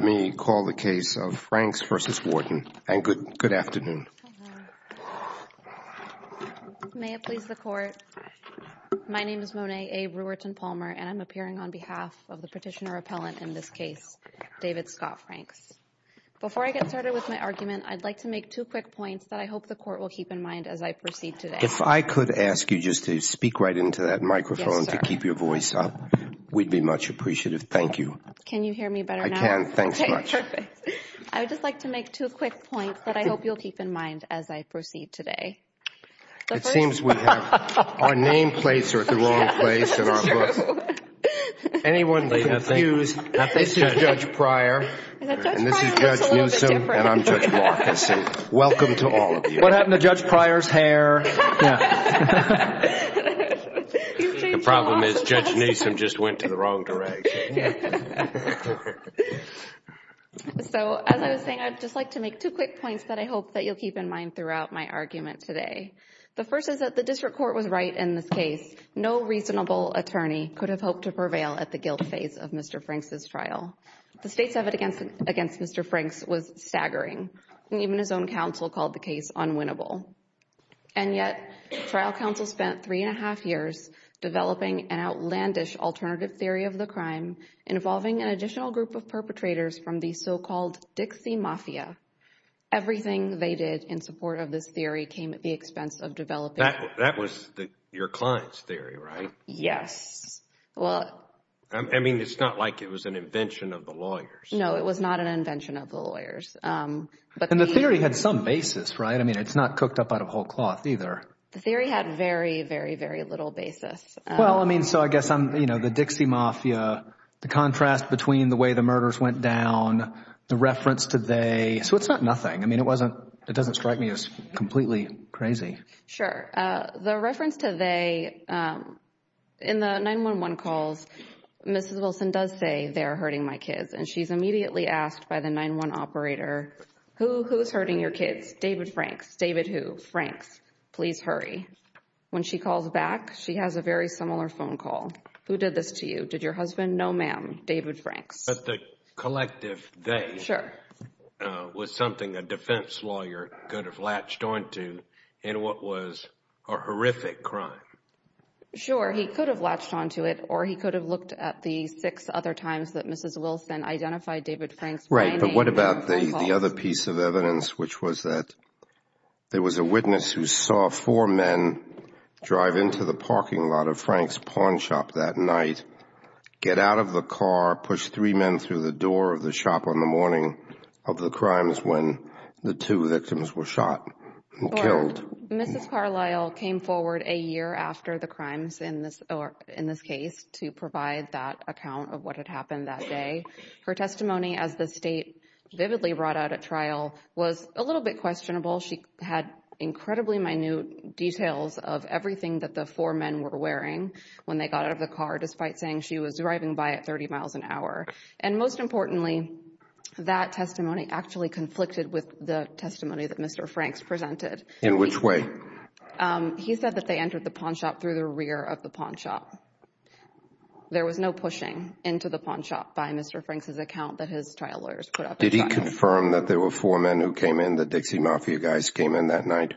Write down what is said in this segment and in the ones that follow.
May it please the Court, my name is Monet A. Reuerten-Palmer and I'm appearing on behalf of the petitioner-appellant in this case, David Scott Franks. Before I get started with my argument, I'd like to make two quick points that I hope the Court will keep in mind as I proceed today. If I could ask you just to speak right into that microphone to keep your voice up, we'd be much appreciative. Thank you. Can you hear me better now? I can. Thanks much. Okay, perfect. I would just like to make two quick points that I hope you'll keep in mind as I proceed today. It seems we have our name plates are at the wrong place in our book. Anyone confused, this is Judge Pryor, and this is Judge Newsom, and I'm Judge Marcus. Welcome to all of you. What happened to Judge Pryor's hair? The problem is Judge Newsom just went to the wrong direction. So, as I was saying, I'd just like to make two quick points that I hope that you'll keep in mind throughout my argument today. The first is that the District Court was right in this case. No reasonable attorney could have hoped to prevail at the guilt phase of Mr. Franks' trial. The state's evidence against Mr. Franks was staggering, and even his own counsel called the case unwinnable. And yet, trial counsel spent three and a half years developing an outlandish alternative theory of the crime involving an additional group of perpetrators from the so-called Dixie Mafia. Everything they did in support of this theory came at the expense of developing... That was your client's theory, right? Yes. Well... I mean, it's not like it was an invention of the lawyers. No, it was not an invention of the lawyers, but the... And the theory had some basis, right? I mean, it's not cooked up out of whole cloth either. The theory had very, very, very little basis. Well, I mean, so I guess I'm, you know, the Dixie Mafia, the contrast between the way the murders went down, the reference to they... so it's not nothing. I mean, it wasn't... it doesn't strike me as completely crazy. Sure. The reference to they... in the 911 calls, Mrs. Wilson does say, they're hurting my kids, and she's immediately asked by the 911 operator, who's hurting your kids? David Franks. David who? Franks. Please hurry. When she calls back, she has a very similar phone call. Who did this to you? Did your husband? No ma'am. David Franks. But the collective they... Sure. That was something a defense lawyer could have latched onto in what was a horrific crime. Sure. He could have latched onto it, or he could have looked at the six other times that Mrs. Wilson identified David Franks by name and by phone. Right. But what about the other piece of evidence, which was that there was a witness who saw four men drive into the parking lot of Franks Pawn Shop that night, get out of the car, push three men through the door of the shop on the morning of the crimes when the two victims were shot and killed? Mrs. Carlisle came forward a year after the crimes in this case to provide that account of what had happened that day. Her testimony as the State vividly brought out at trial was a little bit questionable. She had incredibly minute details of everything that the four men were wearing when they got out of the car, despite saying she was driving by at 30 miles an hour. And most importantly, that testimony actually conflicted with the testimony that Mr. Franks presented. In which way? He said that they entered the pawn shop through the rear of the pawn shop. There was no pushing into the pawn shop by Mr. Franks' account that his trial lawyers put up at trial. Did he confirm that there were four men who came in, the Dixie Mafia guys came in that night?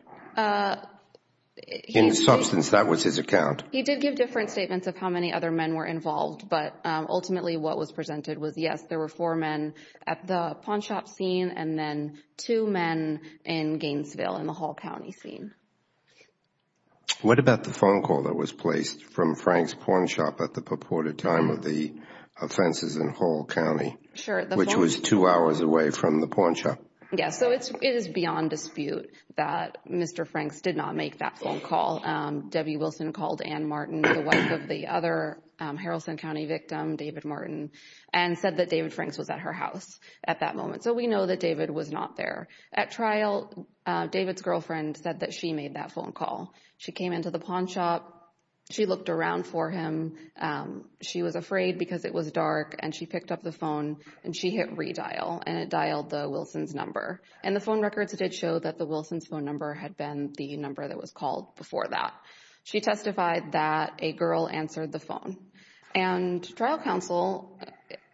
In substance, that was his account. He did give different statements of how many other men were involved, but ultimately what was presented was, yes, there were four men at the pawn shop scene and then two men in Gainesville in the Hall County scene. What about the phone call that was placed from Franks' pawn shop at the purported time of the offenses in Hall County, which was two hours away from the pawn shop? Yes, so it is beyond dispute that Mr. Franks did not make that phone call. Debbie Wilson called Ann Martin, the wife of the other Haralson County victim, David Martin, and said that David Franks was at her house at that moment. So we know that David was not there. At trial, David's girlfriend said that she made that phone call. She came into the pawn shop. She looked around for him. She was afraid because it was dark and she picked up the phone and she hit redial and it dialed the Wilsons' number. And the phone records did show that the Wilsons' phone number had been the number that was at. She testified that a girl answered the phone. And trial counsel,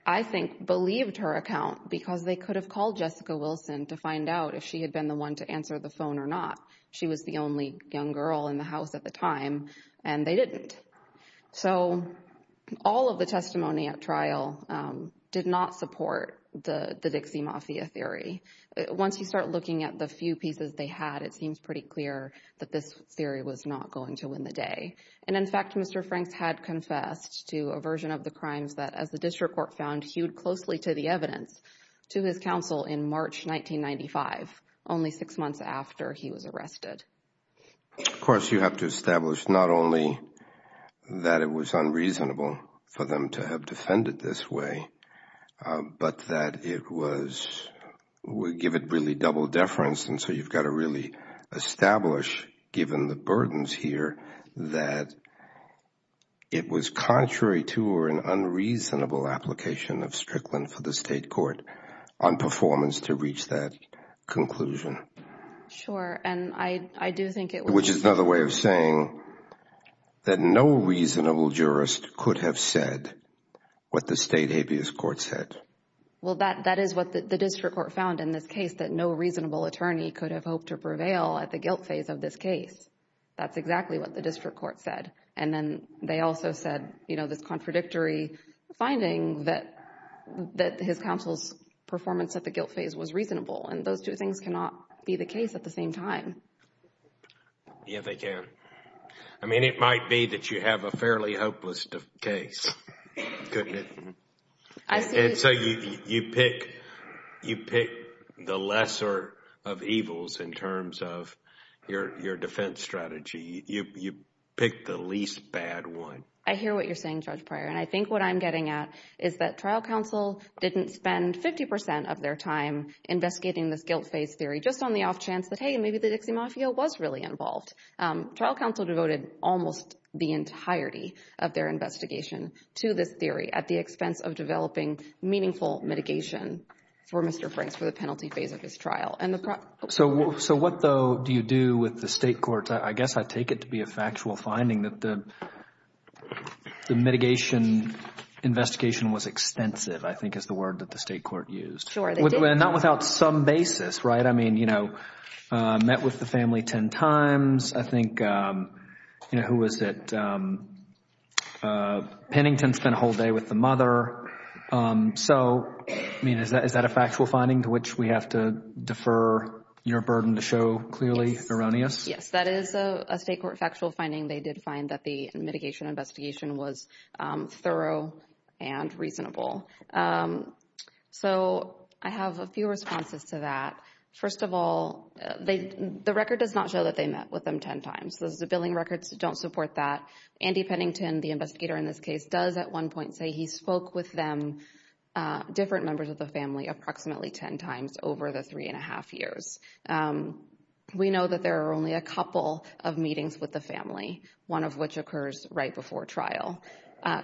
I think, believed her account because they could have called Jessica Wilson to find out if she had been the one to answer the phone or not. She was the only young girl in the house at the time and they didn't. So all of the testimony at trial did not support the Dixie Mafia theory. Once you start looking at the few pieces they had, it seems pretty clear that this theory was not going to win the day. And in fact, Mr. Franks had confessed to a version of the crimes that, as the district court found, hewed closely to the evidence to his counsel in March 1995, only six months after he was arrested. Of course, you have to establish not only that it was unreasonable for them to have defended this way, but that it was, would give it really double deference and so you've got to really establish, given the burdens here, that it was contrary to or an unreasonable application of Strickland for the state court on performance to reach that conclusion. Sure. And I do think it was... Which is another way of saying that no reasonable jurist could have said what the state habeas court said. Well, that is what the district court found in this case, that no reasonable attorney could have hoped to prevail at the guilt phase of this case. That's exactly what the district court said. And then they also said, you know, this contradictory finding that his counsel's performance at the guilt phase was reasonable. And those two things cannot be the case at the same time. Yeah, they can. I mean, it might be that you have a fairly hopeless case, couldn't it? And so you pick the lesser of evils in terms of your defense strategy, you pick the least bad one. I hear what you're saying, Judge Pryor, and I think what I'm getting at is that trial counsel didn't spend fifty percent of their time investigating this guilt phase theory just on the off chance that, hey, maybe the Dixie Mafia was really involved. Trial counsel devoted almost the entirety of their investigation to this theory at the expense of developing meaningful mitigation for Mr. Franks for the penalty phase of his trial. So what, though, do you do with the state courts? I guess I take it to be a factual finding that the mitigation investigation was extensive, I think is the word that the state court used. Sure, they did. And not without some basis, right? I mean, you know, met with the family ten times. I think, you know, who was it, Pennington spent a whole day with the mother. So I mean, is that a factual finding to which we have to defer your burden to show clearly erroneous? Yes, that is a state court factual finding. They did find that the mitigation investigation was thorough and reasonable. So I have a few responses to that. First of all, the record does not show that they met with them ten times. The billing records don't support that. Andy Pennington, the investigator in this case, does at one point say he spoke with them, different members of the family, approximately ten times over the three and a half years. We know that there are only a couple of meetings with the family, one of which occurs right before trial.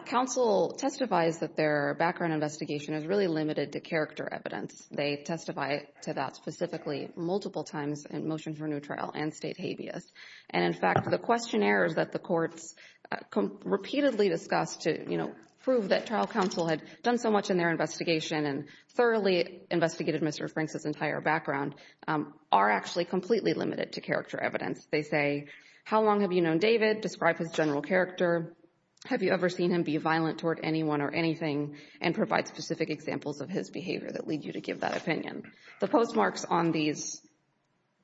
Counsel testifies that their background investigation is really limited to character evidence. They testify to that specifically multiple times in Motion for New Trial and State Habeas. And in fact, the questionnaires that the courts repeatedly discuss to, you know, prove that trial counsel had done so much in their investigation and thoroughly investigated Mr. Franks' entire background are actually completely limited to character evidence. They say, how long have you known David, describe his general character, have you ever seen him be violent toward anyone or anything, and provide specific examples of his behavior that lead you to give that opinion. The postmarks on these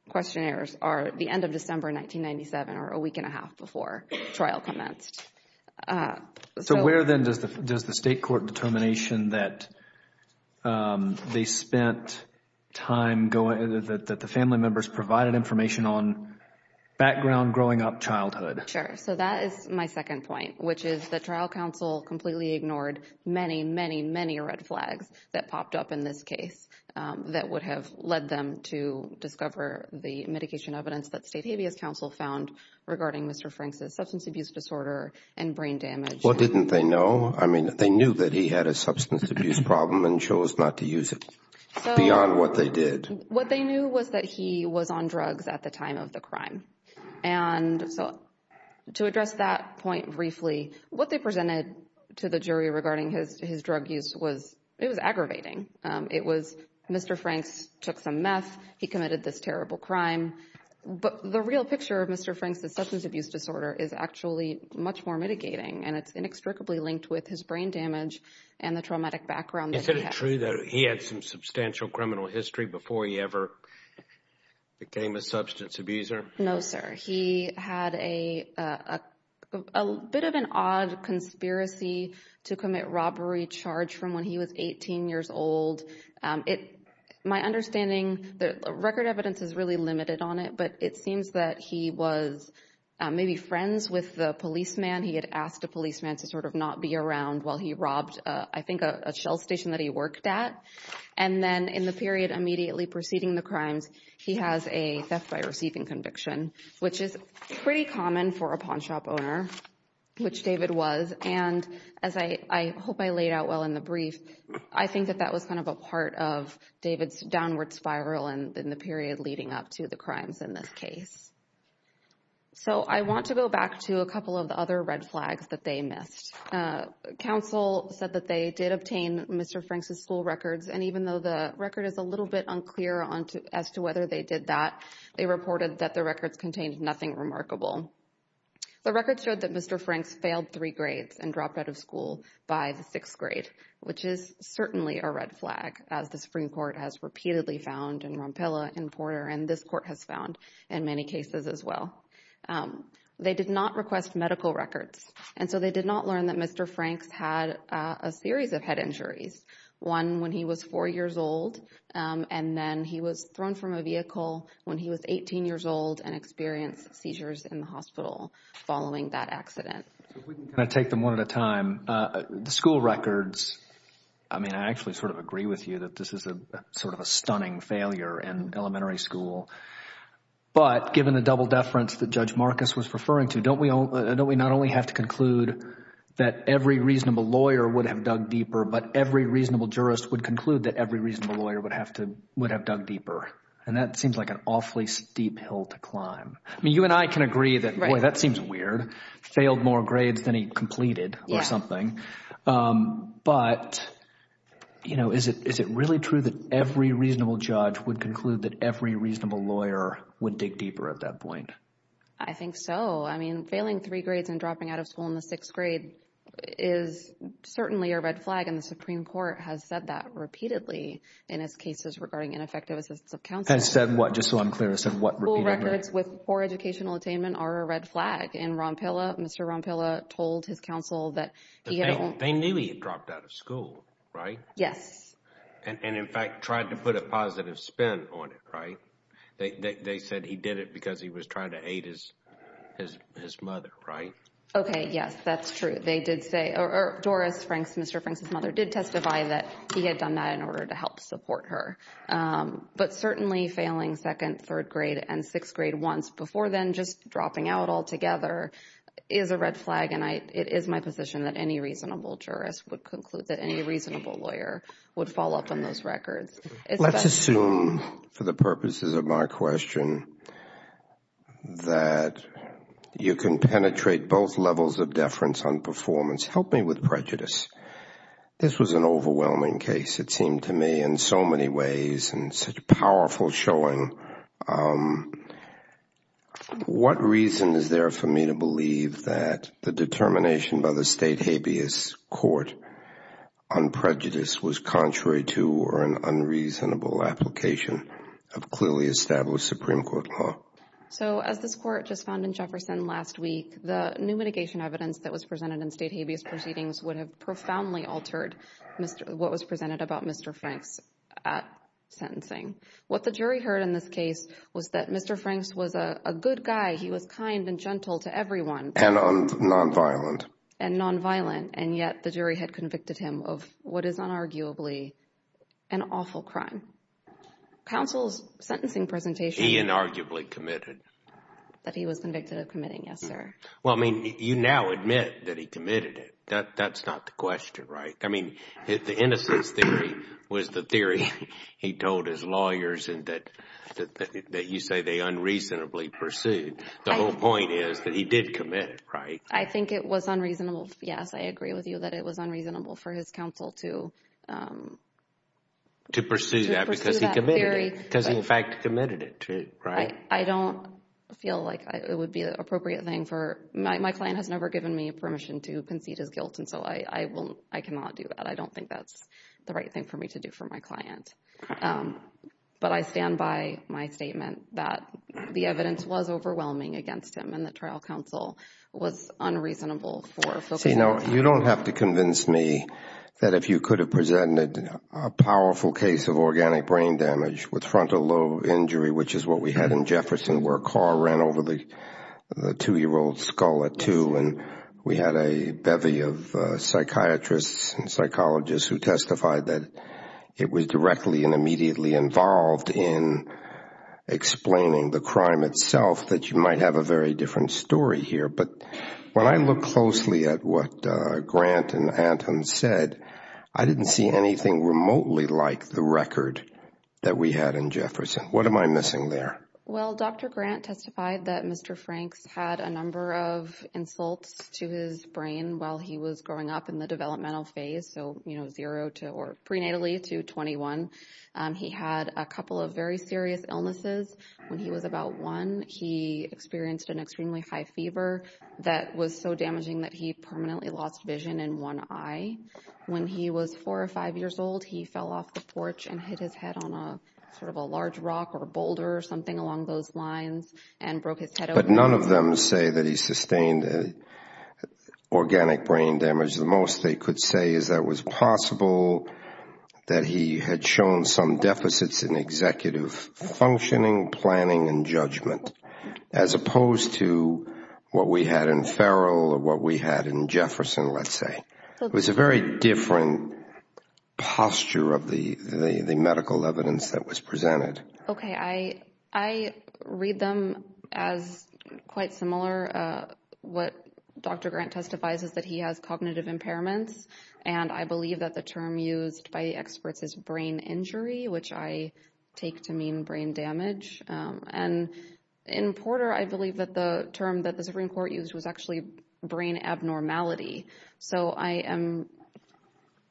questionnaires are the end of December 1997 or a week and a half before trial commenced. So where then does the state court determination that they spent time going, that the family members provided information on background growing up childhood? Sure. So that is my second point, which is that trial counsel completely ignored many, many, many red flags that popped up in this case that would have led them to discover the medication evidence that State Habeas Counsel found regarding Mr. Franks' substance abuse disorder and brain damage. Well, didn't they know? I mean, they knew that he had a substance abuse problem and chose not to use it beyond what they did. What they knew was that he was on drugs at the time of the crime. And so to address that point briefly, what they presented to the jury regarding his drug use was, it was aggravating. It was, Mr. Franks took some meth. He committed this terrible crime. But the real picture of Mr. Franks' substance abuse disorder is actually much more mitigating, and it's inextricably linked with his brain damage and the traumatic background that he had. Is it true that he had some substantial criminal history before he ever became a substance abuser? No, sir. He had a bit of an odd conspiracy to commit robbery charge from when he was 18 years old. My understanding, the record evidence is really limited on it, but it seems that he was maybe friends with the policeman. He had asked a policeman to sort of not be around while he robbed, I think, a shell station that he worked at. And then in the period immediately preceding the crimes, he has a theft by receiving conviction which is pretty common for a pawn shop owner, which David was. And as I hope I laid out well in the brief, I think that that was kind of a part of David's downward spiral in the period leading up to the crimes in this case. So I want to go back to a couple of the other red flags that they missed. Counsel said that they did obtain Mr. Franks' school records, and even though the record is a little bit unclear as to whether they did that, they reported that the records contained nothing remarkable. The records showed that Mr. Franks failed three grades and dropped out of school by the sixth grade, which is certainly a red flag as the Supreme Court has repeatedly found in Rompilla and Porter, and this court has found in many cases as well. They did not request medical records, and so they did not learn that Mr. Franks had a series of head injuries, one when he was four years old, and then he was thrown from a vehicle when he was 18 years old and experienced seizures in the hospital following that accident. Can I take them one at a time? The school records, I mean, I actually sort of agree with you that this is sort of a stunning failure in elementary school, but given the double deference that Judge Marcus was referring to, don't we not only have to conclude that every reasonable lawyer would have dug deeper, but every reasonable jurist would conclude that every reasonable lawyer would have dug deeper, and that seems like an awfully steep hill to climb. I mean, you and I can agree that, boy, that seems weird, failed more grades than he completed or something, but, you know, is it really true that every reasonable judge would conclude that every reasonable lawyer would dig deeper at that point? I think so. I mean, failing three grades and dropping out of school in the sixth grade is certainly a red flag, and the Supreme Court has said that repeatedly in its cases regarding ineffective assistance of counsel. Has said what? Just so I'm clear, has said what repeatedly? School records with poor educational attainment are a red flag, and Ron Pilla, Mr. Ron Pilla told his counsel that he had... They knew he had dropped out of school, right? Yes. And, in fact, tried to put a positive spin on it, right? They said he did it because he was trying to aid his mother, right? Okay, yes, that's true. They did say, or Doris Franks, Mr. Franks' mother, did testify that he had done that in order to help support her. But certainly failing second, third grade, and sixth grade once before then just dropping out altogether is a red flag, and it is my position that any reasonable jurist would conclude that any reasonable lawyer would fall up on those records. Let's assume, for the purposes of my question, that you can penetrate both levels of deference on performance. Help me with prejudice. This was an overwhelming case, it seemed to me, in so many ways, and such a powerful showing. What reason is there for me to believe that the determination by the state habeas court on prejudice was contrary to or an unreasonable application of clearly established Supreme Court law? So, as this court just found in Jefferson last week, the new mitigation evidence that was presented in state habeas proceedings would have profoundly altered what was presented about Mr. Franks' sentencing. What the jury heard in this case was that Mr. Franks was a good guy. He was kind and gentle to everyone. And nonviolent. And nonviolent. And yet, the jury had convicted him of what is unarguably an awful crime. Counsel's sentencing presentation... He inarguably committed. That he was convicted of committing, yes, sir. Well, I mean, you now admit that he committed it. That's not the question, right? I mean, the innocence theory was the theory he told his lawyers and that you say they unreasonably pursued. The whole point is that he did commit it, right? I think it was unreasonable. Yes, I agree with you that it was unreasonable for his counsel to... To pursue that because he committed it. Because he, in fact, committed it, right? I don't feel like it would be an appropriate thing for... My client has never given me permission to concede his guilt, and so I cannot do that. I don't think that's the right thing for me to do for my client. But I stand by my statement that the evidence was overwhelming against him and that trial counsel was unreasonable for... See, now, you don't have to convince me that if you could have presented a powerful case of organic brain damage with frontal lobe injury, which is what we had in Jefferson where a car ran over the two-year-old skull at two, and we had a bevy of psychiatrists and psychologists who testified that it was directly and immediately involved in explaining the crime itself, that you might have a very different story here. But when I look closely at what Grant and Anton said, I didn't see anything remotely like the record that we had in Jefferson. What am I missing there? Well, Dr. Grant testified that Mr. Franks had a number of insults to his brain while he was growing up in the developmental phase, so, you know, zero to... or prenatally to 21. He had a couple of very serious illnesses. When he was about one, he experienced an extremely high fever that was so damaging that he permanently lost vision in one eye. When he was four or five years old, he fell off the porch and hit his head on a sort of a large rock or a boulder or something along those lines and broke his head open. But none of them say that he sustained organic brain damage. The most they could say is that it was possible that he had shown some deficits in executive functioning, planning, and judgment, as opposed to what we had in Ferrell or what we had in Jefferson, let's say. It was a very different posture of the medical evidence that was presented. Okay. I read them as quite similar. In Porter, what Dr. Grant testifies is that he has cognitive impairments, and I believe that the term used by experts is brain injury, which I take to mean brain damage. And in Porter, I believe that the term that the Supreme Court used was actually brain abnormality. So I am...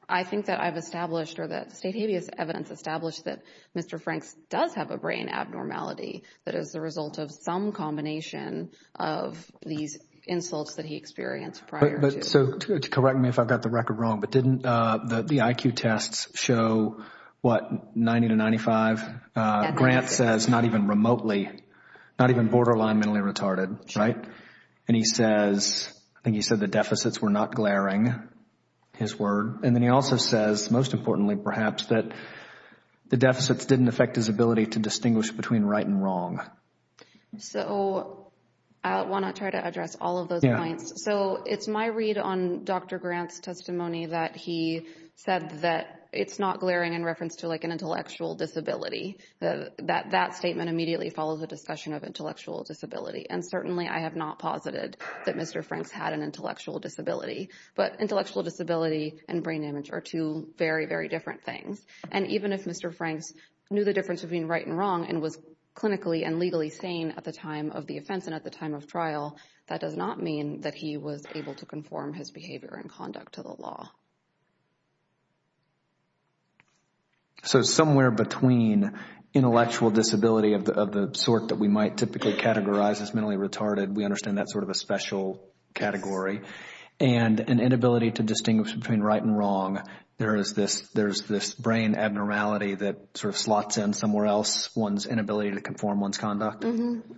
I think that I've established or that state habeas evidence established that Mr. Franks does have a brain abnormality that is the result of some combination of these insults that he experienced prior to. So correct me if I've got the record wrong, but didn't the IQ tests show what, 90 to 95? Grant says not even remotely, not even borderline mentally retarded, right? Sure. And he says, I think he said the deficits were not glaring, his word. And then he also says, most importantly perhaps, that the deficits didn't affect his ability to distinguish between right and wrong. So I want to try to address all of those points. So it's my read on Dr. Grant's testimony that he said that it's not glaring in reference to like an intellectual disability, that that statement immediately follows a discussion of intellectual disability. And certainly I have not posited that Mr. Franks had an intellectual disability, but brain damage are two very, very different things. And even if Mr. Franks knew the difference between right and wrong and was clinically and legally sane at the time of the offense and at the time of trial, that does not mean that he was able to conform his behavior and conduct to the law. So somewhere between intellectual disability of the sort that we might typically categorize as mentally retarded, we understand that's sort of a special category, and an inability to distinguish between right and wrong, there is this brain abnormality that sort of slots in somewhere else, one's inability to conform one's conduct?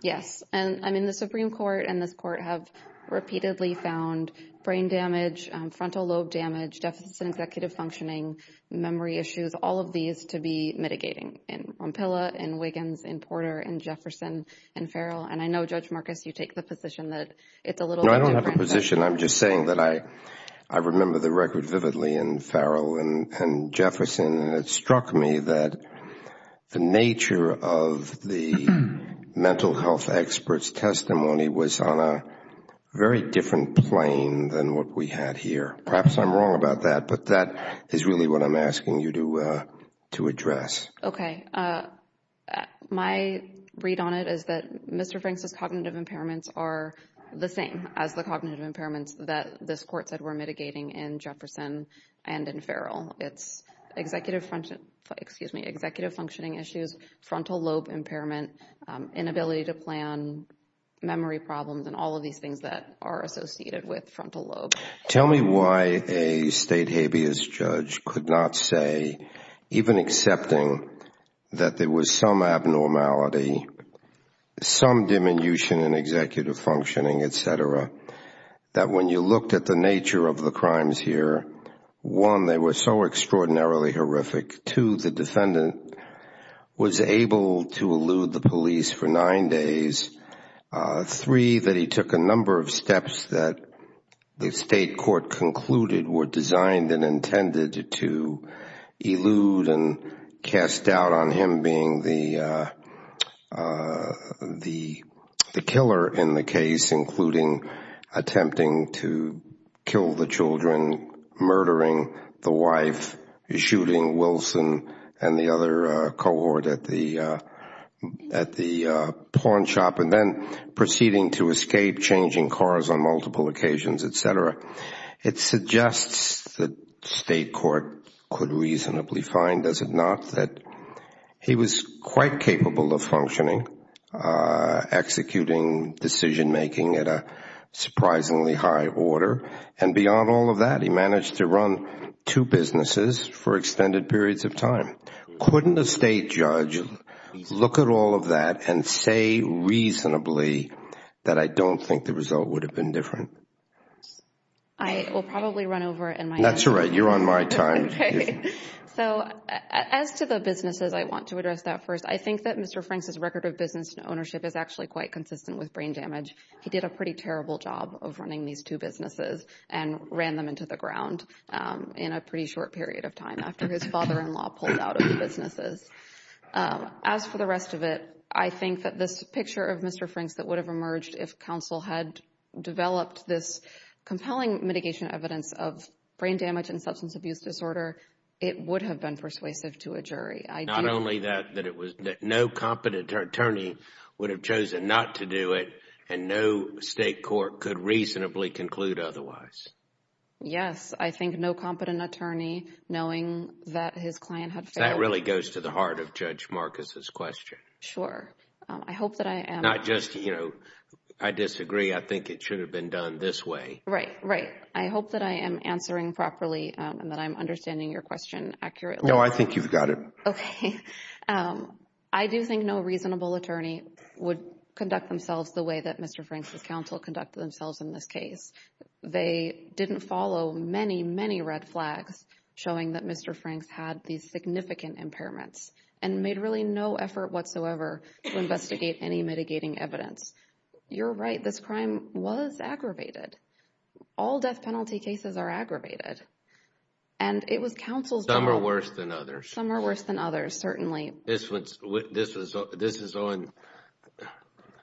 Yes. And I mean, the Supreme Court and this court have repeatedly found brain damage, frontal lobe damage, deficits in executive functioning, memory issues, all of these to be mitigating in Rompilla, in Wiggins, in Porter, in Jefferson, in Farrell. And I know, Judge Marcus, you take the position that it's a little bit different. No, I don't have a position. I'm just saying that I remember the record vividly in Farrell and Jefferson, and it struck me that the nature of the mental health experts' testimony was on a very different plane than what we had here. Perhaps I'm wrong about that, but that is really what I'm asking you to address. Okay. My read on it is that Mr. Franks' cognitive impairments are the same as the cognitive impairments that this court said were mitigating in Jefferson and in Farrell. It's executive functioning issues, frontal lobe impairment, inability to plan, memory problems, and all of these things that are associated with frontal lobe. Tell me why a state habeas judge could not say, even accepting that there was some abnormality, some diminution in executive functioning, et cetera, that when you looked at the nature of the crimes here, one, they were so extraordinarily horrific, two, the defendant was able to elude the police for nine days, three, that he took a number of steps that the state court concluded were designed and intended to elude and cast doubt on him being the killer in the case, including attempting to kill the children, murdering the wife, shooting Wilson and the other cohort at the pawn shop, and then proceeding to escape, changing cars on multiple occasions, et cetera. It suggests that the state court could reasonably find, does it not, that he was quite capable of functioning, executing decision making at a surprisingly high order, and beyond all of that, he managed to run two businesses for extended periods of time. Couldn't a state judge look at all of that and say reasonably that I don't think the result would have been different? I will probably run over in my time. That's all right. You're on my time. Okay. So as to the businesses, I want to address that first. I think that Mr. Franks' record of business and ownership is actually quite consistent with brain damage. He did a pretty terrible job of running these two businesses and ran them into the ground in a pretty short period of time after his father-in-law pulled out of the businesses. As for the rest of it, I think that this picture of Mr. Franks that would have emerged if counsel had developed this compelling mitigation evidence of brain damage and substance abuse disorder, Not only that, that no competent attorney would have chosen not to do it and no state court could reasonably conclude otherwise. Yes. I think no competent attorney knowing that his client had failed. That really goes to the heart of Judge Marcus' question. Sure. I hope that I am... Not just, you know, I disagree, I think it should have been done this way. Right. Right. I hope that I am answering properly and that I'm understanding your question accurately. No, I think you've got it. Okay. I do think no reasonable attorney would conduct themselves the way that Mr. Franks' counsel conducted themselves in this case. They didn't follow many, many red flags showing that Mr. Franks had these significant impairments and made really no effort whatsoever to investigate any mitigating evidence. You're right, this crime was aggravated. All death penalty cases are aggravated. And it was counsel's... Some are worse than others. Some are worse than others, certainly. This one's... this is on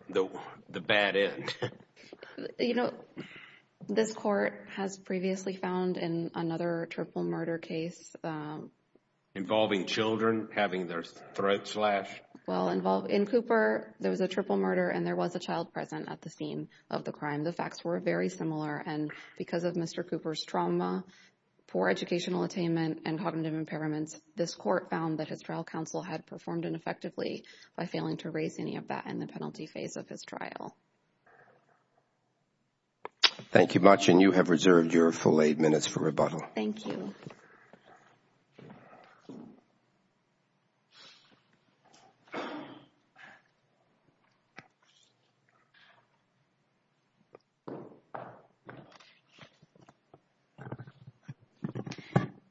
the bad end. You know, this court has previously found in another triple murder case... Involving children having their throats slashed. Well, in Cooper, there was a triple murder and there was a child present at the scene of the crime. The facts were very similar and because of Mr. Cooper's trauma, poor educational attainment and cognitive impairments, this court found that his trial counsel had performed ineffectively by failing to raise any of that in the penalty phase of his trial. Thank you much and you have reserved your full eight minutes for rebuttal. Thank you.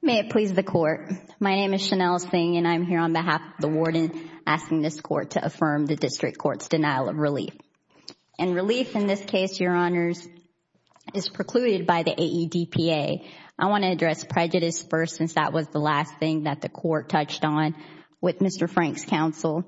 May it please the Court. My name is Chanel Singh and I'm here on behalf of the Warden asking this court to affirm the District Court's denial of relief. And relief in this case, Your Honors, is precluded by the AEDPA. I want to address prejudice first since that was the last thing that the court touched on with Mr. Frank's counsel.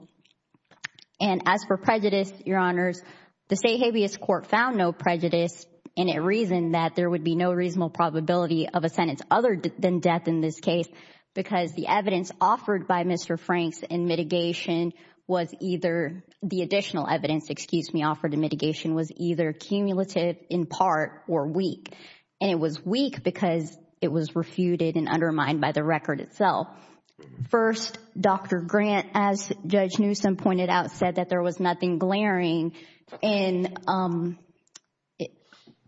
And as for prejudice, Your Honors, the State Habeas Court found no prejudice and it reasoned that there would be no reasonable probability of a sentence other than death in this case because the evidence offered by Mr. Frank's in mitigation was either... the additional evidence, excuse me, offered in mitigation was either cumulative, in part, or weak. And it was weak because it was refuted and undermined by the record itself. First, Dr. Grant, as Judge Newsom pointed out, said that there was nothing glaring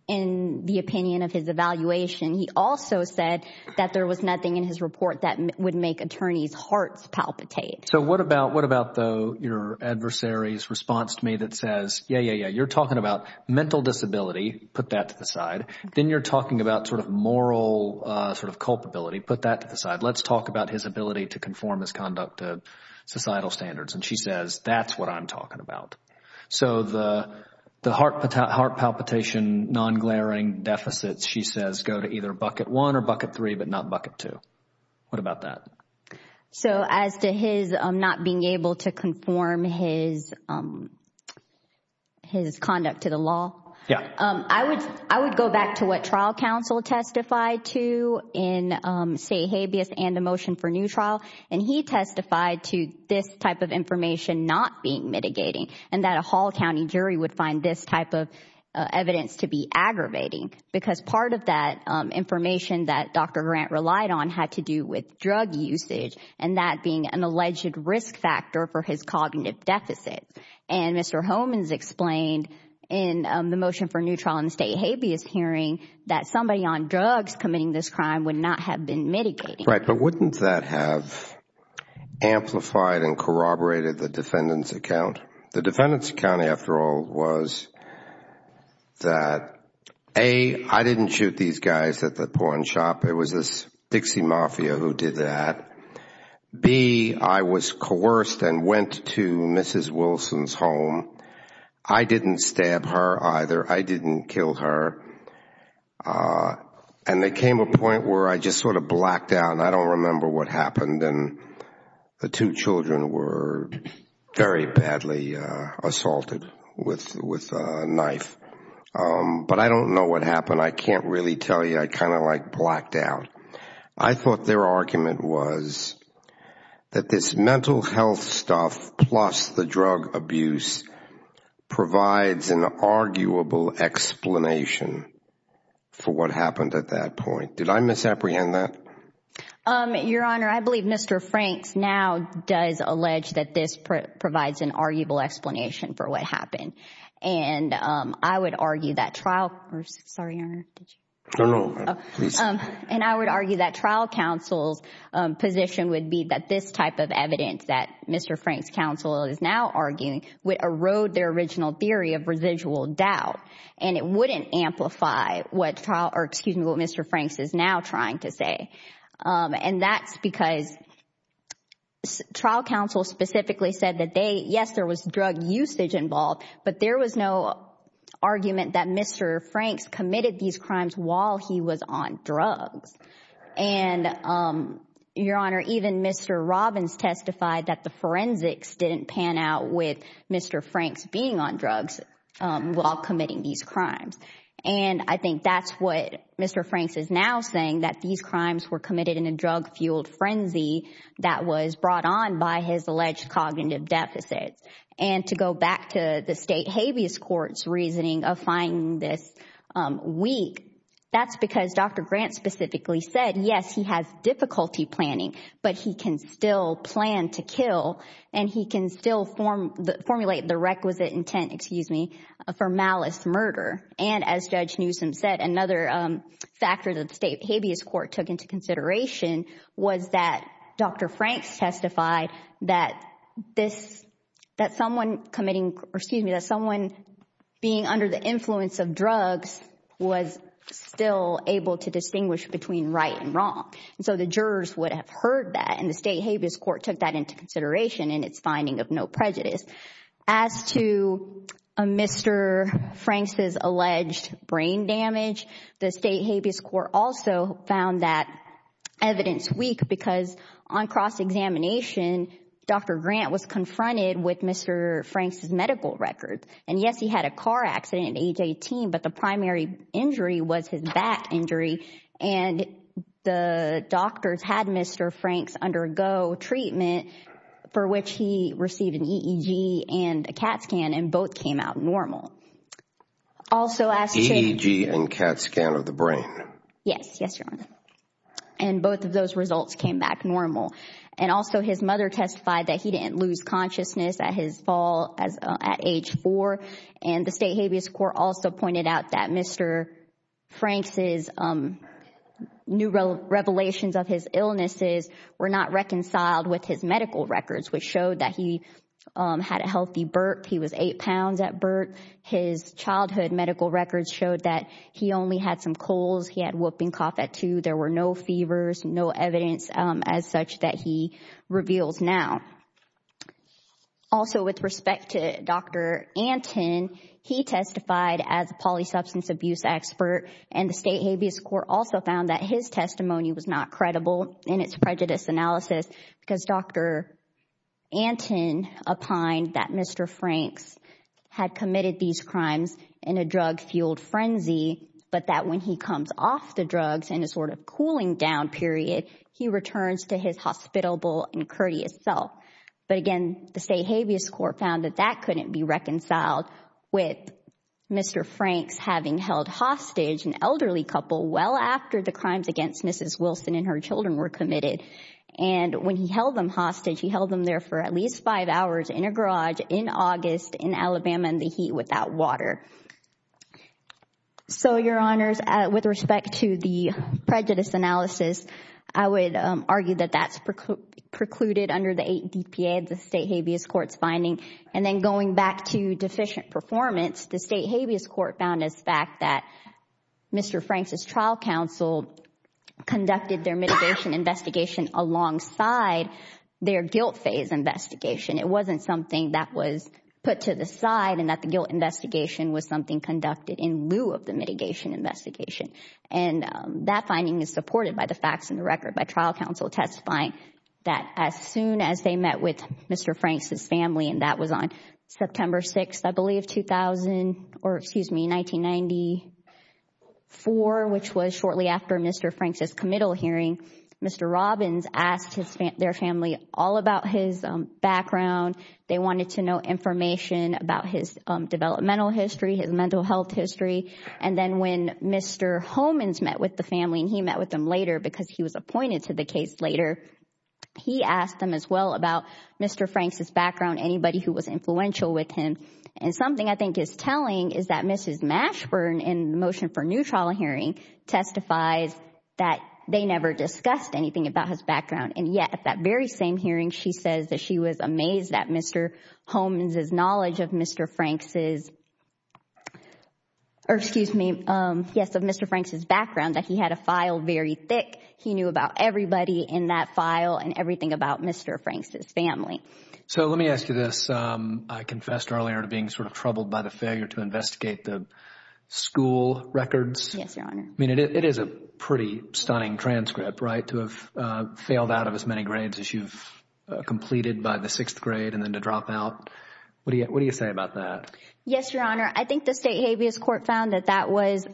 in the opinion of his evaluation. He also said that there was nothing in his report that would make attorneys' hearts palpitate. So what about, though, your adversary's response to me that says, yeah, yeah, yeah, you're putting that to the side. Then you're talking about sort of moral sort of culpability. Put that to the side. Let's talk about his ability to conform his conduct to societal standards. And she says, that's what I'm talking about. So the heart palpitation non-glaring deficits, she says, go to either bucket one or bucket three but not bucket two. What about that? So as to his not being able to conform his conduct to the law, I would go back to what trial counsel testified to in, say, habeas and a motion for new trial. And he testified to this type of information not being mitigating and that a Hall County jury would find this type of evidence to be aggravating because part of that information that Dr. Grant relied on had to do with drug usage and that being an alleged risk factor for his cognitive deficit. And Mr. Homans explained in the motion for new trial in the state habeas hearing that somebody on drugs committing this crime would not have been mitigating. Right. But wouldn't that have amplified and corroborated the defendant's account? The defendant's account, after all, was that A, I didn't shoot these guys at the porn shop. It was this Dixie Mafia who did that. B, I was coerced and went to Mrs. Wilson's home. I didn't stab her either. I didn't kill her. And there came a point where I just sort of blacked out and I don't remember what happened and the two children were very badly assaulted with a knife. But I don't know what happened. I can't really tell you. I kind of like blacked out. I thought their argument was that this mental health stuff plus the drug abuse provides an arguable explanation for what happened at that point. Did I misapprehend that? Your Honor, I believe Mr. Franks now does allege that this provides an arguable explanation for what happened. And I would argue that trial, sorry, Your Honor. And I would argue that trial counsel's position would be that this type of evidence that Mr. Franks' counsel is now arguing would erode their original theory of residual doubt. And it wouldn't amplify what trial, or excuse me, what Mr. Franks is now trying to say. And that's because trial counsel specifically said that they, yes there was drug usage involved, but there was no argument that Mr. Franks committed these crimes while he was on drugs. And Your Honor, even Mr. Robbins testified that the forensics didn't pan out with Mr. Franks being on drugs while committing these crimes. And I think that's what Mr. Franks is now saying, that these crimes were committed in a drug-fueled frenzy that was brought on by his alleged cognitive deficits. And to go back to the state habeas court's reasoning of finding this weak, that's because Dr. Grant specifically said, yes he has difficulty planning, but he can still plan to kill and he can still formulate the requisite intent, excuse me, for malice murder. And as Judge Newsom said, another factor that the state habeas court took into consideration was that Dr. Franks testified that someone being under the influence of drugs was still able to distinguish between right and wrong. And so the jurors would have heard that and the state habeas court took that into consideration in its finding of no prejudice. As to Mr. Franks' alleged brain damage, the state habeas court also found that evidence weak because on cross-examination, Dr. Grant was confronted with Mr. Franks' medical records. And yes, he had a car accident at age 18, but the primary injury was his back injury. And the doctors had Mr. Franks undergo treatment for which he received an EEG and a CAT scan and both came out normal. Also as to... EEG and CAT scan of the brain. Yes, yes, Your Honor. And both of those results came back normal. And also his mother testified that he didn't lose consciousness at his fall at age four. And the state habeas court also pointed out that Mr. Franks' new revelations of his illnesses were not reconciled with his medical records, which showed that he had a healthy birth. He was eight pounds at birth. His childhood medical records showed that he only had some colds. He had whooping cough at two. There were no fevers, no evidence as such that he reveals now. Also, with respect to Dr. Anton, he testified as a polysubstance abuse expert. And the state habeas court also found that his testimony was not credible in its prejudice analysis because Dr. Anton opined that Mr. Franks had committed these crimes in a drug-fueled frenzy, but that when he comes off the drugs in a sort of cooling down period, he returns to his hospitable and courteous self. But again, the state habeas court found that that couldn't be reconciled with Mr. Franks having held hostage an elderly couple well after the crimes against Mrs. Wilson and her children were committed. And when he held them hostage, he held them there for at least five hours in a garage in August in Alabama in the heat without water. So, Your Honors, with respect to the prejudice analysis, I would argue that that's precluded under the eight DPA of the state habeas court's finding. And then going back to deficient performance, the state habeas court found as fact that Mr. Franks' trial counsel conducted their mitigation investigation alongside their guilt phase investigation. It wasn't something that was put to the side and that the guilt investigation was something conducted in lieu of the mitigation investigation. And that finding is supported by the facts in the record by trial counsel testifying that as soon as they met with Mr. Franks' family, and that was on September 6th, I believe, or excuse me, 1994, which was shortly after Mr. Franks' committal hearing, Mr. Robbins asked their family all about his background. They wanted to know information about his developmental history, his mental health history. And then when Mr. Homans met with the family, and he met with them later because he was appointed to the case later, he asked them as well about Mr. Franks' background, anybody who was influential with him. And something I think is telling is that Mrs. Mashburn, in the motion for new trial hearing, testifies that they never discussed anything about his background. And yet, at that very same hearing, she says that she was amazed that Mr. Homans' knowledge of Mr. Franks' or excuse me, yes, of Mr. Franks' background, that he had a file very thick. He knew about everybody in that file and everything about Mr. Franks' family. So let me ask you this. I confessed earlier to being sort of troubled by the failure to investigate the school records. Yes, Your Honor. I mean, it is a pretty stunning transcript, right, to have failed out of as many grades as you've completed by the sixth grade and then to drop out. What do you say about that? Yes, Your Honor. I think the state habeas court found that that was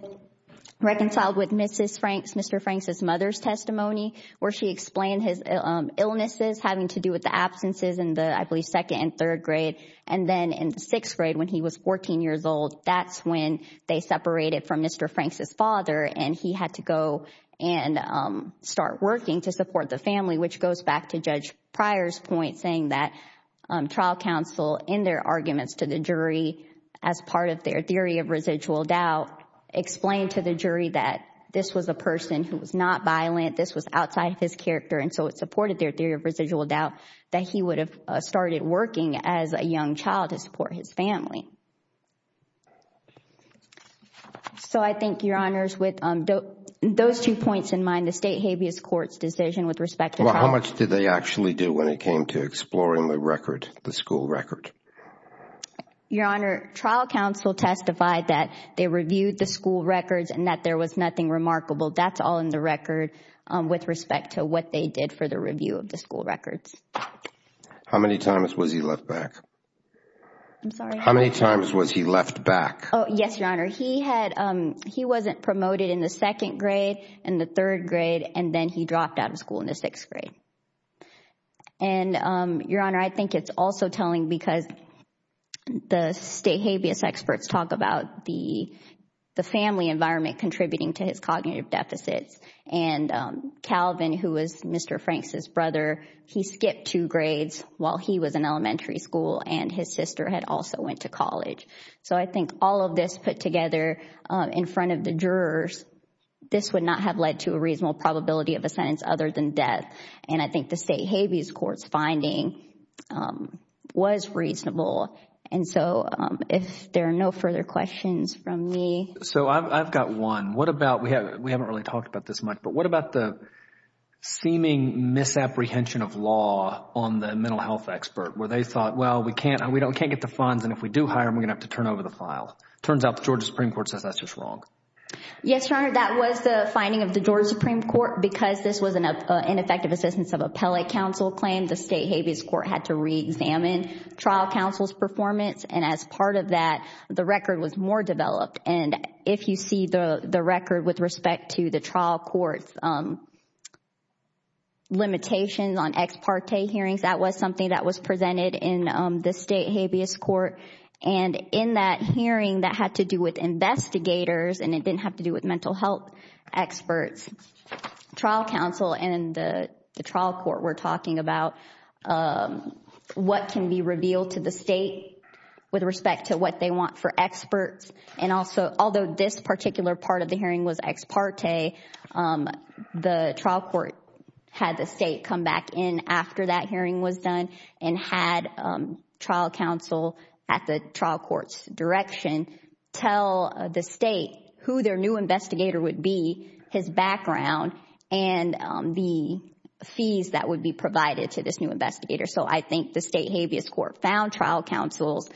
reconciled with Mrs. Franks, Mr. Franks' mother's testimony where she explained his illnesses having to do with the absences in the, I believe, second and third grade. And then in the sixth grade when he was 14 years old, that's when they separated from Mr. Franks' father and he had to go and start working to support the family, which goes back to Judge Pryor's point, saying that trial counsel in their arguments to the jury as part of their theory of residual doubt explained to the jury that this was a person who was not violent, this was outside of his character, and so it supported their theory of residual doubt that he would have started working as a young child to support his family. So I think, Your Honors, with those two points in mind, the state habeas court's decision with respect to trial... Well, how much did they actually do when it came to exploring the record, the school record? Your Honor, trial counsel testified that they reviewed the school records and that there was nothing remarkable. That's all in the record with respect to what they did for the review of the school records. How many times was he left back? I'm sorry? How many times was he left back? Yes, Your Honor. He wasn't promoted in the second grade, in the third grade, and then he dropped out of school in the sixth grade. And, Your Honor, I think it's also telling because the state habeas experts talk about the family environment contributing to his cognitive deficits, and Calvin, who was Mr. Franks' brother, he skipped two grades while he was in elementary school and his sister had also went to college. So I think all of this put together in front of the jurors, this would not have led to a reasonable probability of a sentence other than death, and I think the state habeas court's finding was reasonable. And so if there are no further questions from me... So I've got one. What about, we haven't really talked about this much, but what about the seeming misapprehension of law on the mental health expert where they thought, well, we can't get the funds, and if we do hire him, we're going to have to turn over the file. It turns out the Georgia Supreme Court says that's just wrong. Yes, Your Honor, that was the finding of the Georgia Supreme Court. Because this was an ineffective assistance of appellate counsel claim, the state habeas court had to reexamine trial counsel's performance, and as part of that, the record was more developed. And if you see the record with respect to the trial court's limitations on ex parte hearings, that was something that was presented in the state habeas court. And in that hearing that had to do with investigators, and it didn't have to do with mental health experts, trial counsel and the trial court were talking about what can be revealed to the state with respect to what they want for experts. And also, although this particular part of the hearing was ex parte, the trial court had the state come back in after that hearing was done and had trial counsel at the trial court's direction tell the state who their new investigator would be, his background, and the fees that would be provided to this new investigator. So I think the state habeas court found trial counsel's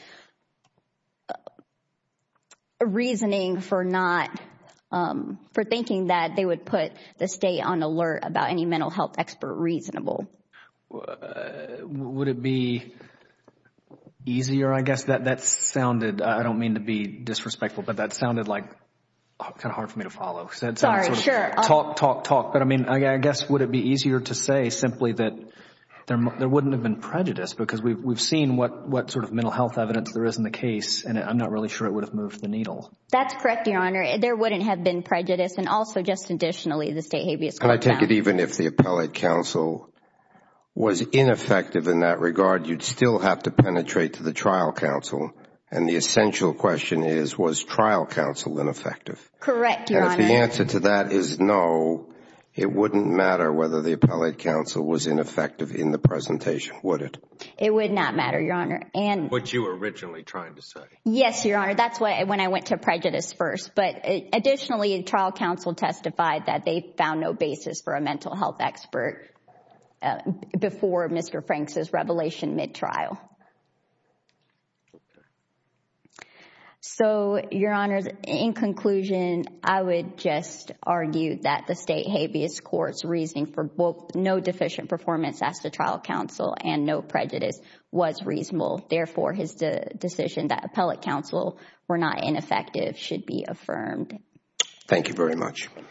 reasoning for not, for thinking that they would put the state on alert about any mental health expert reasonable. Would it be easier, I guess? That sounded, I don't mean to be disrespectful, but that sounded like kind of hard for me to follow. Sorry, sure. Talk, talk, talk. But I mean, I guess would it be easier to say simply that there wouldn't have been prejudice because we've seen what sort of mental health evidence there is in the case, and I'm not really sure it would have moved the needle. That's correct, Your Honor. There wouldn't have been prejudice. And also, just additionally, the state habeas court found. And I take it even if the appellate counsel was ineffective in that regard, you'd still have to penetrate to the trial counsel. And the essential question is, was trial counsel ineffective? Correct, Your Honor. And if the answer to that is no, it wouldn't matter whether the appellate counsel was ineffective in the presentation, would it? It would not matter, Your Honor. What you were originally trying to say. Yes, Your Honor. That's when I went to prejudice first. But additionally, trial counsel testified that they found no basis for a mental health expert before Mr. Franks' revelation mid-trial. Okay. So, Your Honor, in conclusion, I would just argue that the state habeas court's reasoning for both no deficient performance as to trial counsel and no prejudice was reasonable. Therefore, his decision that appellate counsel were not ineffective should be affirmed. Thank you very much. Thank you.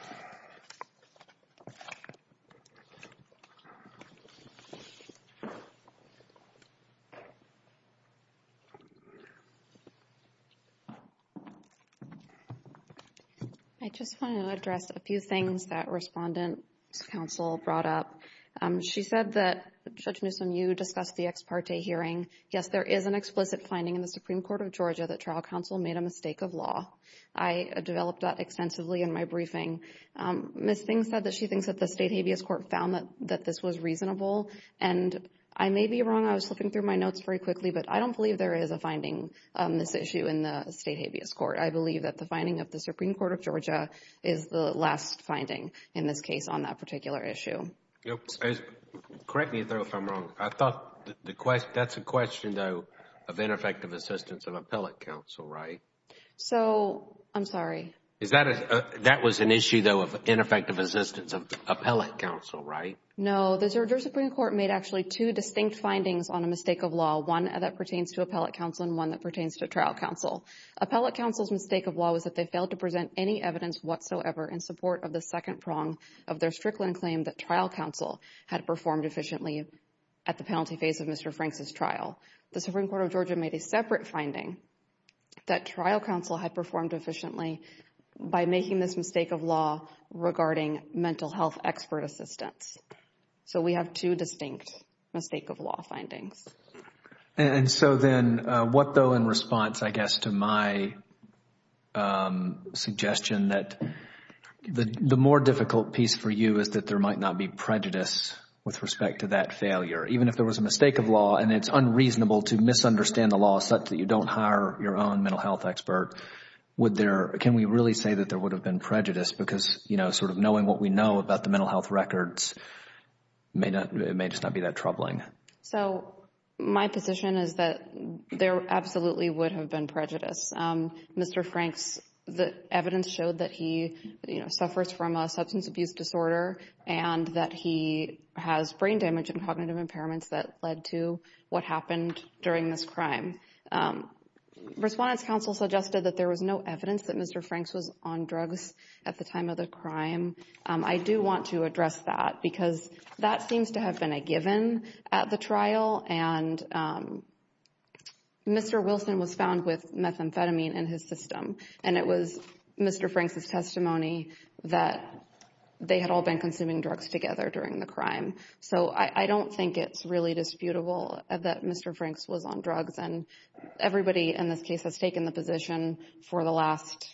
I just want to address a few things that Respondent's counsel brought up. She said that Judge Newsom, you discussed the ex parte hearing. Yes, there is an explicit finding in the Supreme Court of Georgia that trial counsel made a mistake of law. I developed that extensively in my briefing. Ms. Things said that she thinks that the state habeas court found that this was reasonable. And I may be wrong. I was flipping through my notes very quickly. But I don't believe there is a finding on this issue in the state habeas court. I believe that the finding of the Supreme Court of Georgia is the last finding in this case on that particular issue. Correct me if I'm wrong. I thought that's a question, though, of ineffective assistance of appellate counsel, right? So, I'm sorry. That was an issue, though, of ineffective assistance of appellate counsel, right? No. The Georgia Supreme Court made actually two distinct findings on a mistake of law, one that pertains to appellate counsel and one that pertains to trial counsel. Appellate counsel's mistake of law was that they failed to present any evidence whatsoever in support of the second prong of their Strickland claim that trial counsel had performed efficiently at the penalty phase of Mr. Franks' trial. The Supreme Court of Georgia made a separate finding that trial counsel had performed efficiently by making this mistake of law regarding mental health expert assistance. So, we have two distinct mistake of law findings. And so then, what, though, in response, I guess, to my suggestion that the more difficult piece for you is that there might not be prejudice with respect to that failure. Even if there was a mistake of law and it's unreasonable to misunderstand the law such that you don't hire your own mental health expert, can we really say that there would have been prejudice? Because, you know, sort of knowing what we know about the mental health records, it may just not be that troubling. So, my position is that there absolutely would have been prejudice. Mr. Franks' evidence showed that he suffers from a substance abuse disorder and that he has brain damage and cognitive impairments that led to what happened during this crime. Respondents' counsel suggested that there was no evidence that Mr. Franks was on drugs at the time of the crime. I do want to address that because that seems to have been a given at the trial. And Mr. Wilson was found with methamphetamine in his system. And it was Mr. Franks' testimony that they had all been consuming drugs together during the crime. So, I don't think it's really disputable that Mr. Franks was on drugs. And everybody in this case has taken the position for the last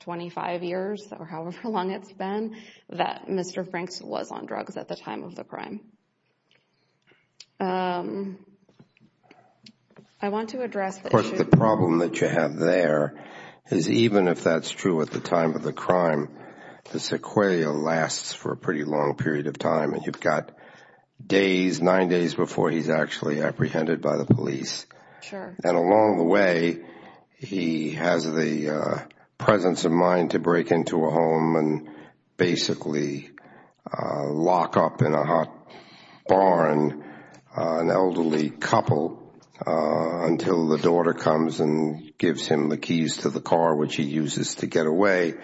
25 years or however long it's been that Mr. Franks was on drugs at the time of the crime. I want to address the issue. Of course, the problem that you have there is even if that's true at the time of the crime, the sequelae lasts for a pretty long period of time. And you've got days, nine days before he's actually apprehended by the police. Sure. And along the way, he has the presence of mind to break into a home and basically lock up in a hot barn an elderly couple until the daughter comes and gives him the keys to the car, which he uses to get away.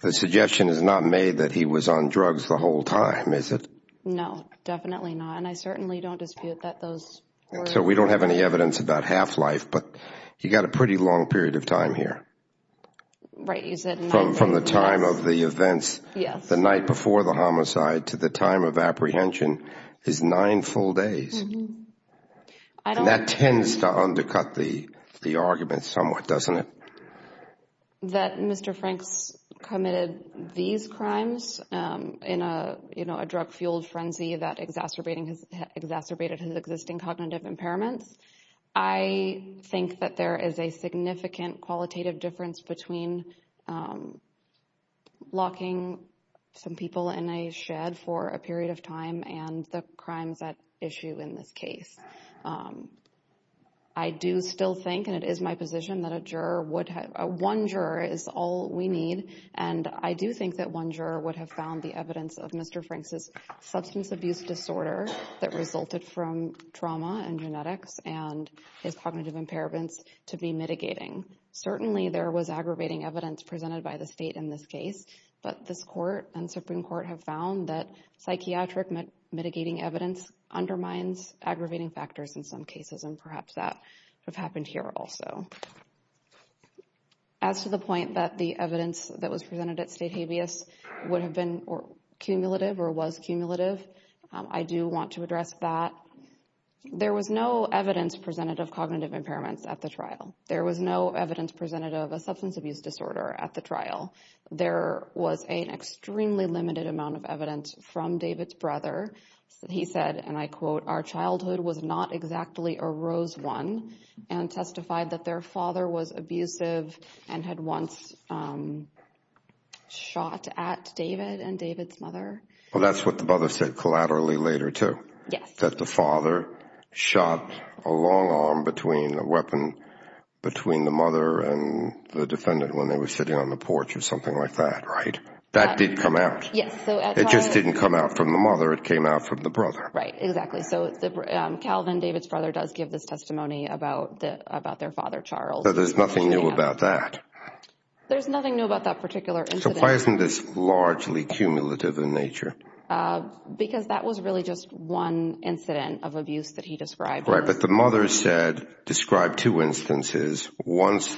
The suggestion is not made that he was on drugs the whole time, is it? No, definitely not. And I certainly don't dispute that those were. So, we don't have any evidence about half-life, but you've got a pretty long period of time here. Right, you said nine days. From the time of the events the night before the homicide to the time of apprehension is nine full days. And that tends to undercut the argument somewhat, doesn't it? That Mr. Franks committed these crimes in a drug-fueled frenzy that exacerbated his existing cognitive impairments. I think that there is a significant qualitative difference between locking some people in a shed for a period of time and the crimes at issue in this case. I do still think, and it is my position, that one juror is all we need. And I do think that one juror would have found the evidence of Mr. Franks' substance abuse disorder that resulted from trauma and genetics and his cognitive impairments to be mitigating. Certainly, there was aggravating evidence presented by the state in this case, but this court and Supreme Court have found that psychiatric mitigating evidence undermines aggravating factors in some cases, and perhaps that would have happened here also. As to the point that the evidence that was presented at state habeas would have been cumulative or was cumulative, I do want to address that. There was no evidence presented of cognitive impairments at the trial. There was no evidence presented of a substance abuse disorder at the trial. There was an extremely limited amount of evidence from David's brother. He said, and I quote, our childhood was not exactly a rose one and testified that their father was abusive and had once shot at David and David's mother. Well, that's what the brother said collaterally later, too. Yes. He said that the father shot a long arm between a weapon between the mother and the defendant when they were sitting on the porch or something like that, right? That did come out. Yes. It just didn't come out from the mother. It came out from the brother. Right. Exactly. So Calvin, David's brother, does give this testimony about their father, Charles. But there's nothing new about that. There's nothing new about that particular incident. So why isn't this largely cumulative in nature? Because that was really just one incident of abuse that he described. Right. But the mother described two instances. Once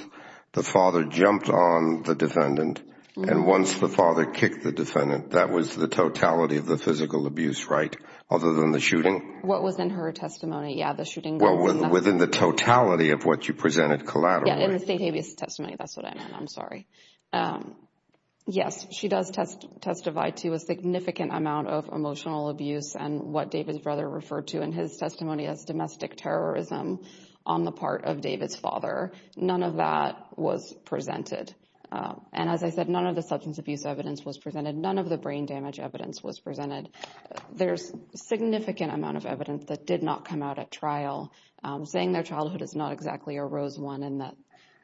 the father jumped on the defendant and once the father kicked the defendant. That was the totality of the physical abuse, right? Other than the shooting? What was in her testimony. Yeah, the shooting. Within the totality of what you presented collaterally. Yeah, in David's testimony. That's what I meant. I'm sorry. Yes, she does testify to a significant amount of emotional abuse. And what David's brother referred to in his testimony as domestic terrorism on the part of David's father. None of that was presented. And as I said, none of the substance abuse evidence was presented. None of the brain damage evidence was presented. There's significant amount of evidence that did not come out at trial. Saying their childhood is not exactly a rose one and that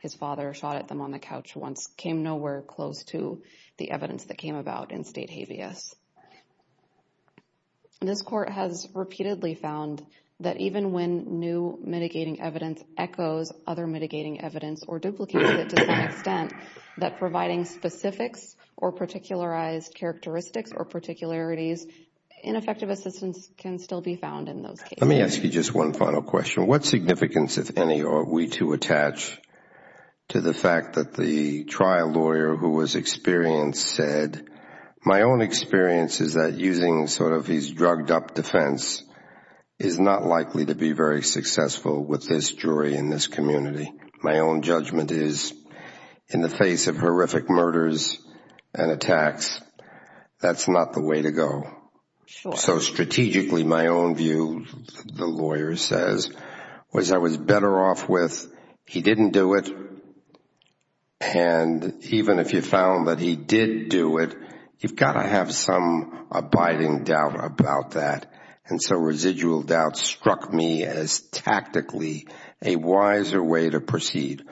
his father shot at them on the couch once came nowhere close to the evidence that came about in state habeas. This court has repeatedly found that even when new mitigating evidence echoes other mitigating evidence or duplicates it to some extent, that providing specifics or particularized characteristics or particularities in effective assistance can still be found in those cases. Let me ask you just one final question. What significance, if any, are we to attach to the fact that the trial lawyer who was experienced said, my own experience is that using sort of these drugged up defense is not likely to be very successful with this jury in this community. My own judgment is in the face of horrific murders and attacks, that's not the way to go. So strategically, my own view, the lawyer says, was I was better off with he didn't do it and even if you found that he did do it, you've got to have some abiding doubt about that. And so residual doubt struck me as tactically a wiser way to proceed.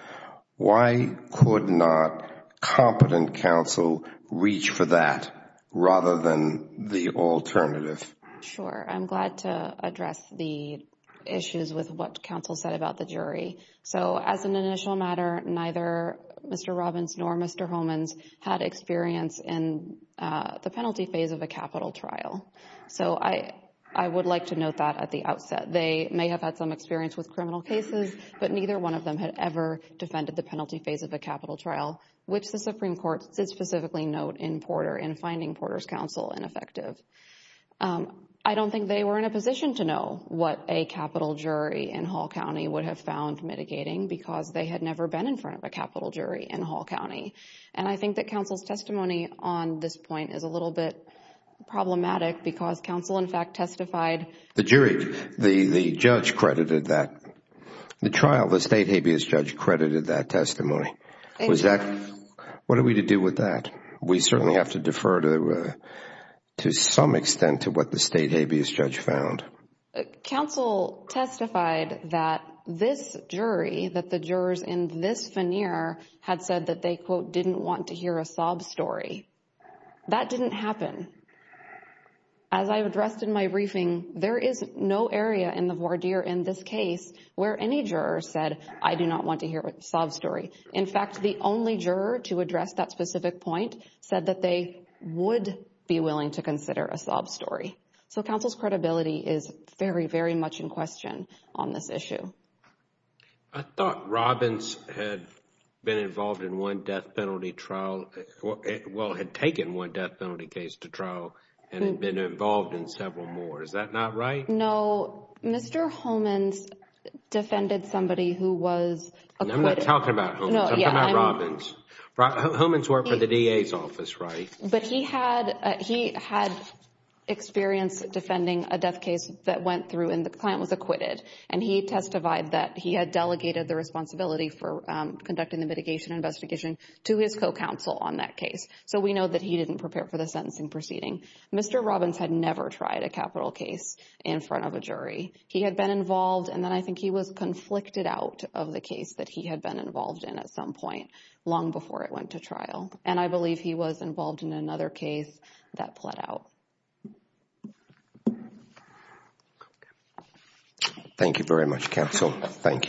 Why could not competent counsel reach for that rather than the alternative? Sure. I'm glad to address the issues with what counsel said about the jury. So as an initial matter, neither Mr. Robbins nor Mr. Holmans had experience in the penalty phase of a capital trial. So I would like to note that at the outset. They may have had some experience with criminal cases, but neither one of them had ever defended the penalty phase of a capital trial, which the Supreme Court specifically note in Porter and finding Porter's counsel ineffective. I don't think they were in a position to know what a capital jury in Hall County would have found mitigating because they had never been in front of a capital jury in Hall County. And I think that counsel's testimony on this point is a little bit problematic because counsel, in fact, testified. The jury, the judge credited that, the trial, the state habeas judge credited that testimony. What are we to do with that? We certainly have to defer to some extent to what the state habeas judge found. Counsel testified that this jury, that the jurors in this veneer had said that they, quote, didn't want to hear a sob story. That didn't happen. As I addressed in my briefing, there is no area in the voir dire in this case where any juror said, I do not want to hear a sob story. In fact, the only juror to address that specific point said that they would be willing to consider a sob story. So counsel's credibility is very, very much in question on this issue. I thought Robbins had been involved in one death penalty trial. Well, had taken one death penalty case to trial and had been involved in several more. Is that not right? No. Mr. Homans defended somebody who was acquitted. I'm not talking about Homans. I'm talking about Robbins. Homans worked for the DA's office, right? But he had experience defending a death case that went through and the client was acquitted. And he testified that he had delegated the responsibility for conducting the mitigation investigation to his co-counsel on that case. So we know that he didn't prepare for the sentencing proceeding. Mr. Robbins had never tried a capital case in front of a jury. He had been involved. And then I think he was conflicted out of the case that he had been involved in at some point long before it went to trial. And I believe he was involved in another case that played out. Thank you very much, counsel. Thank you.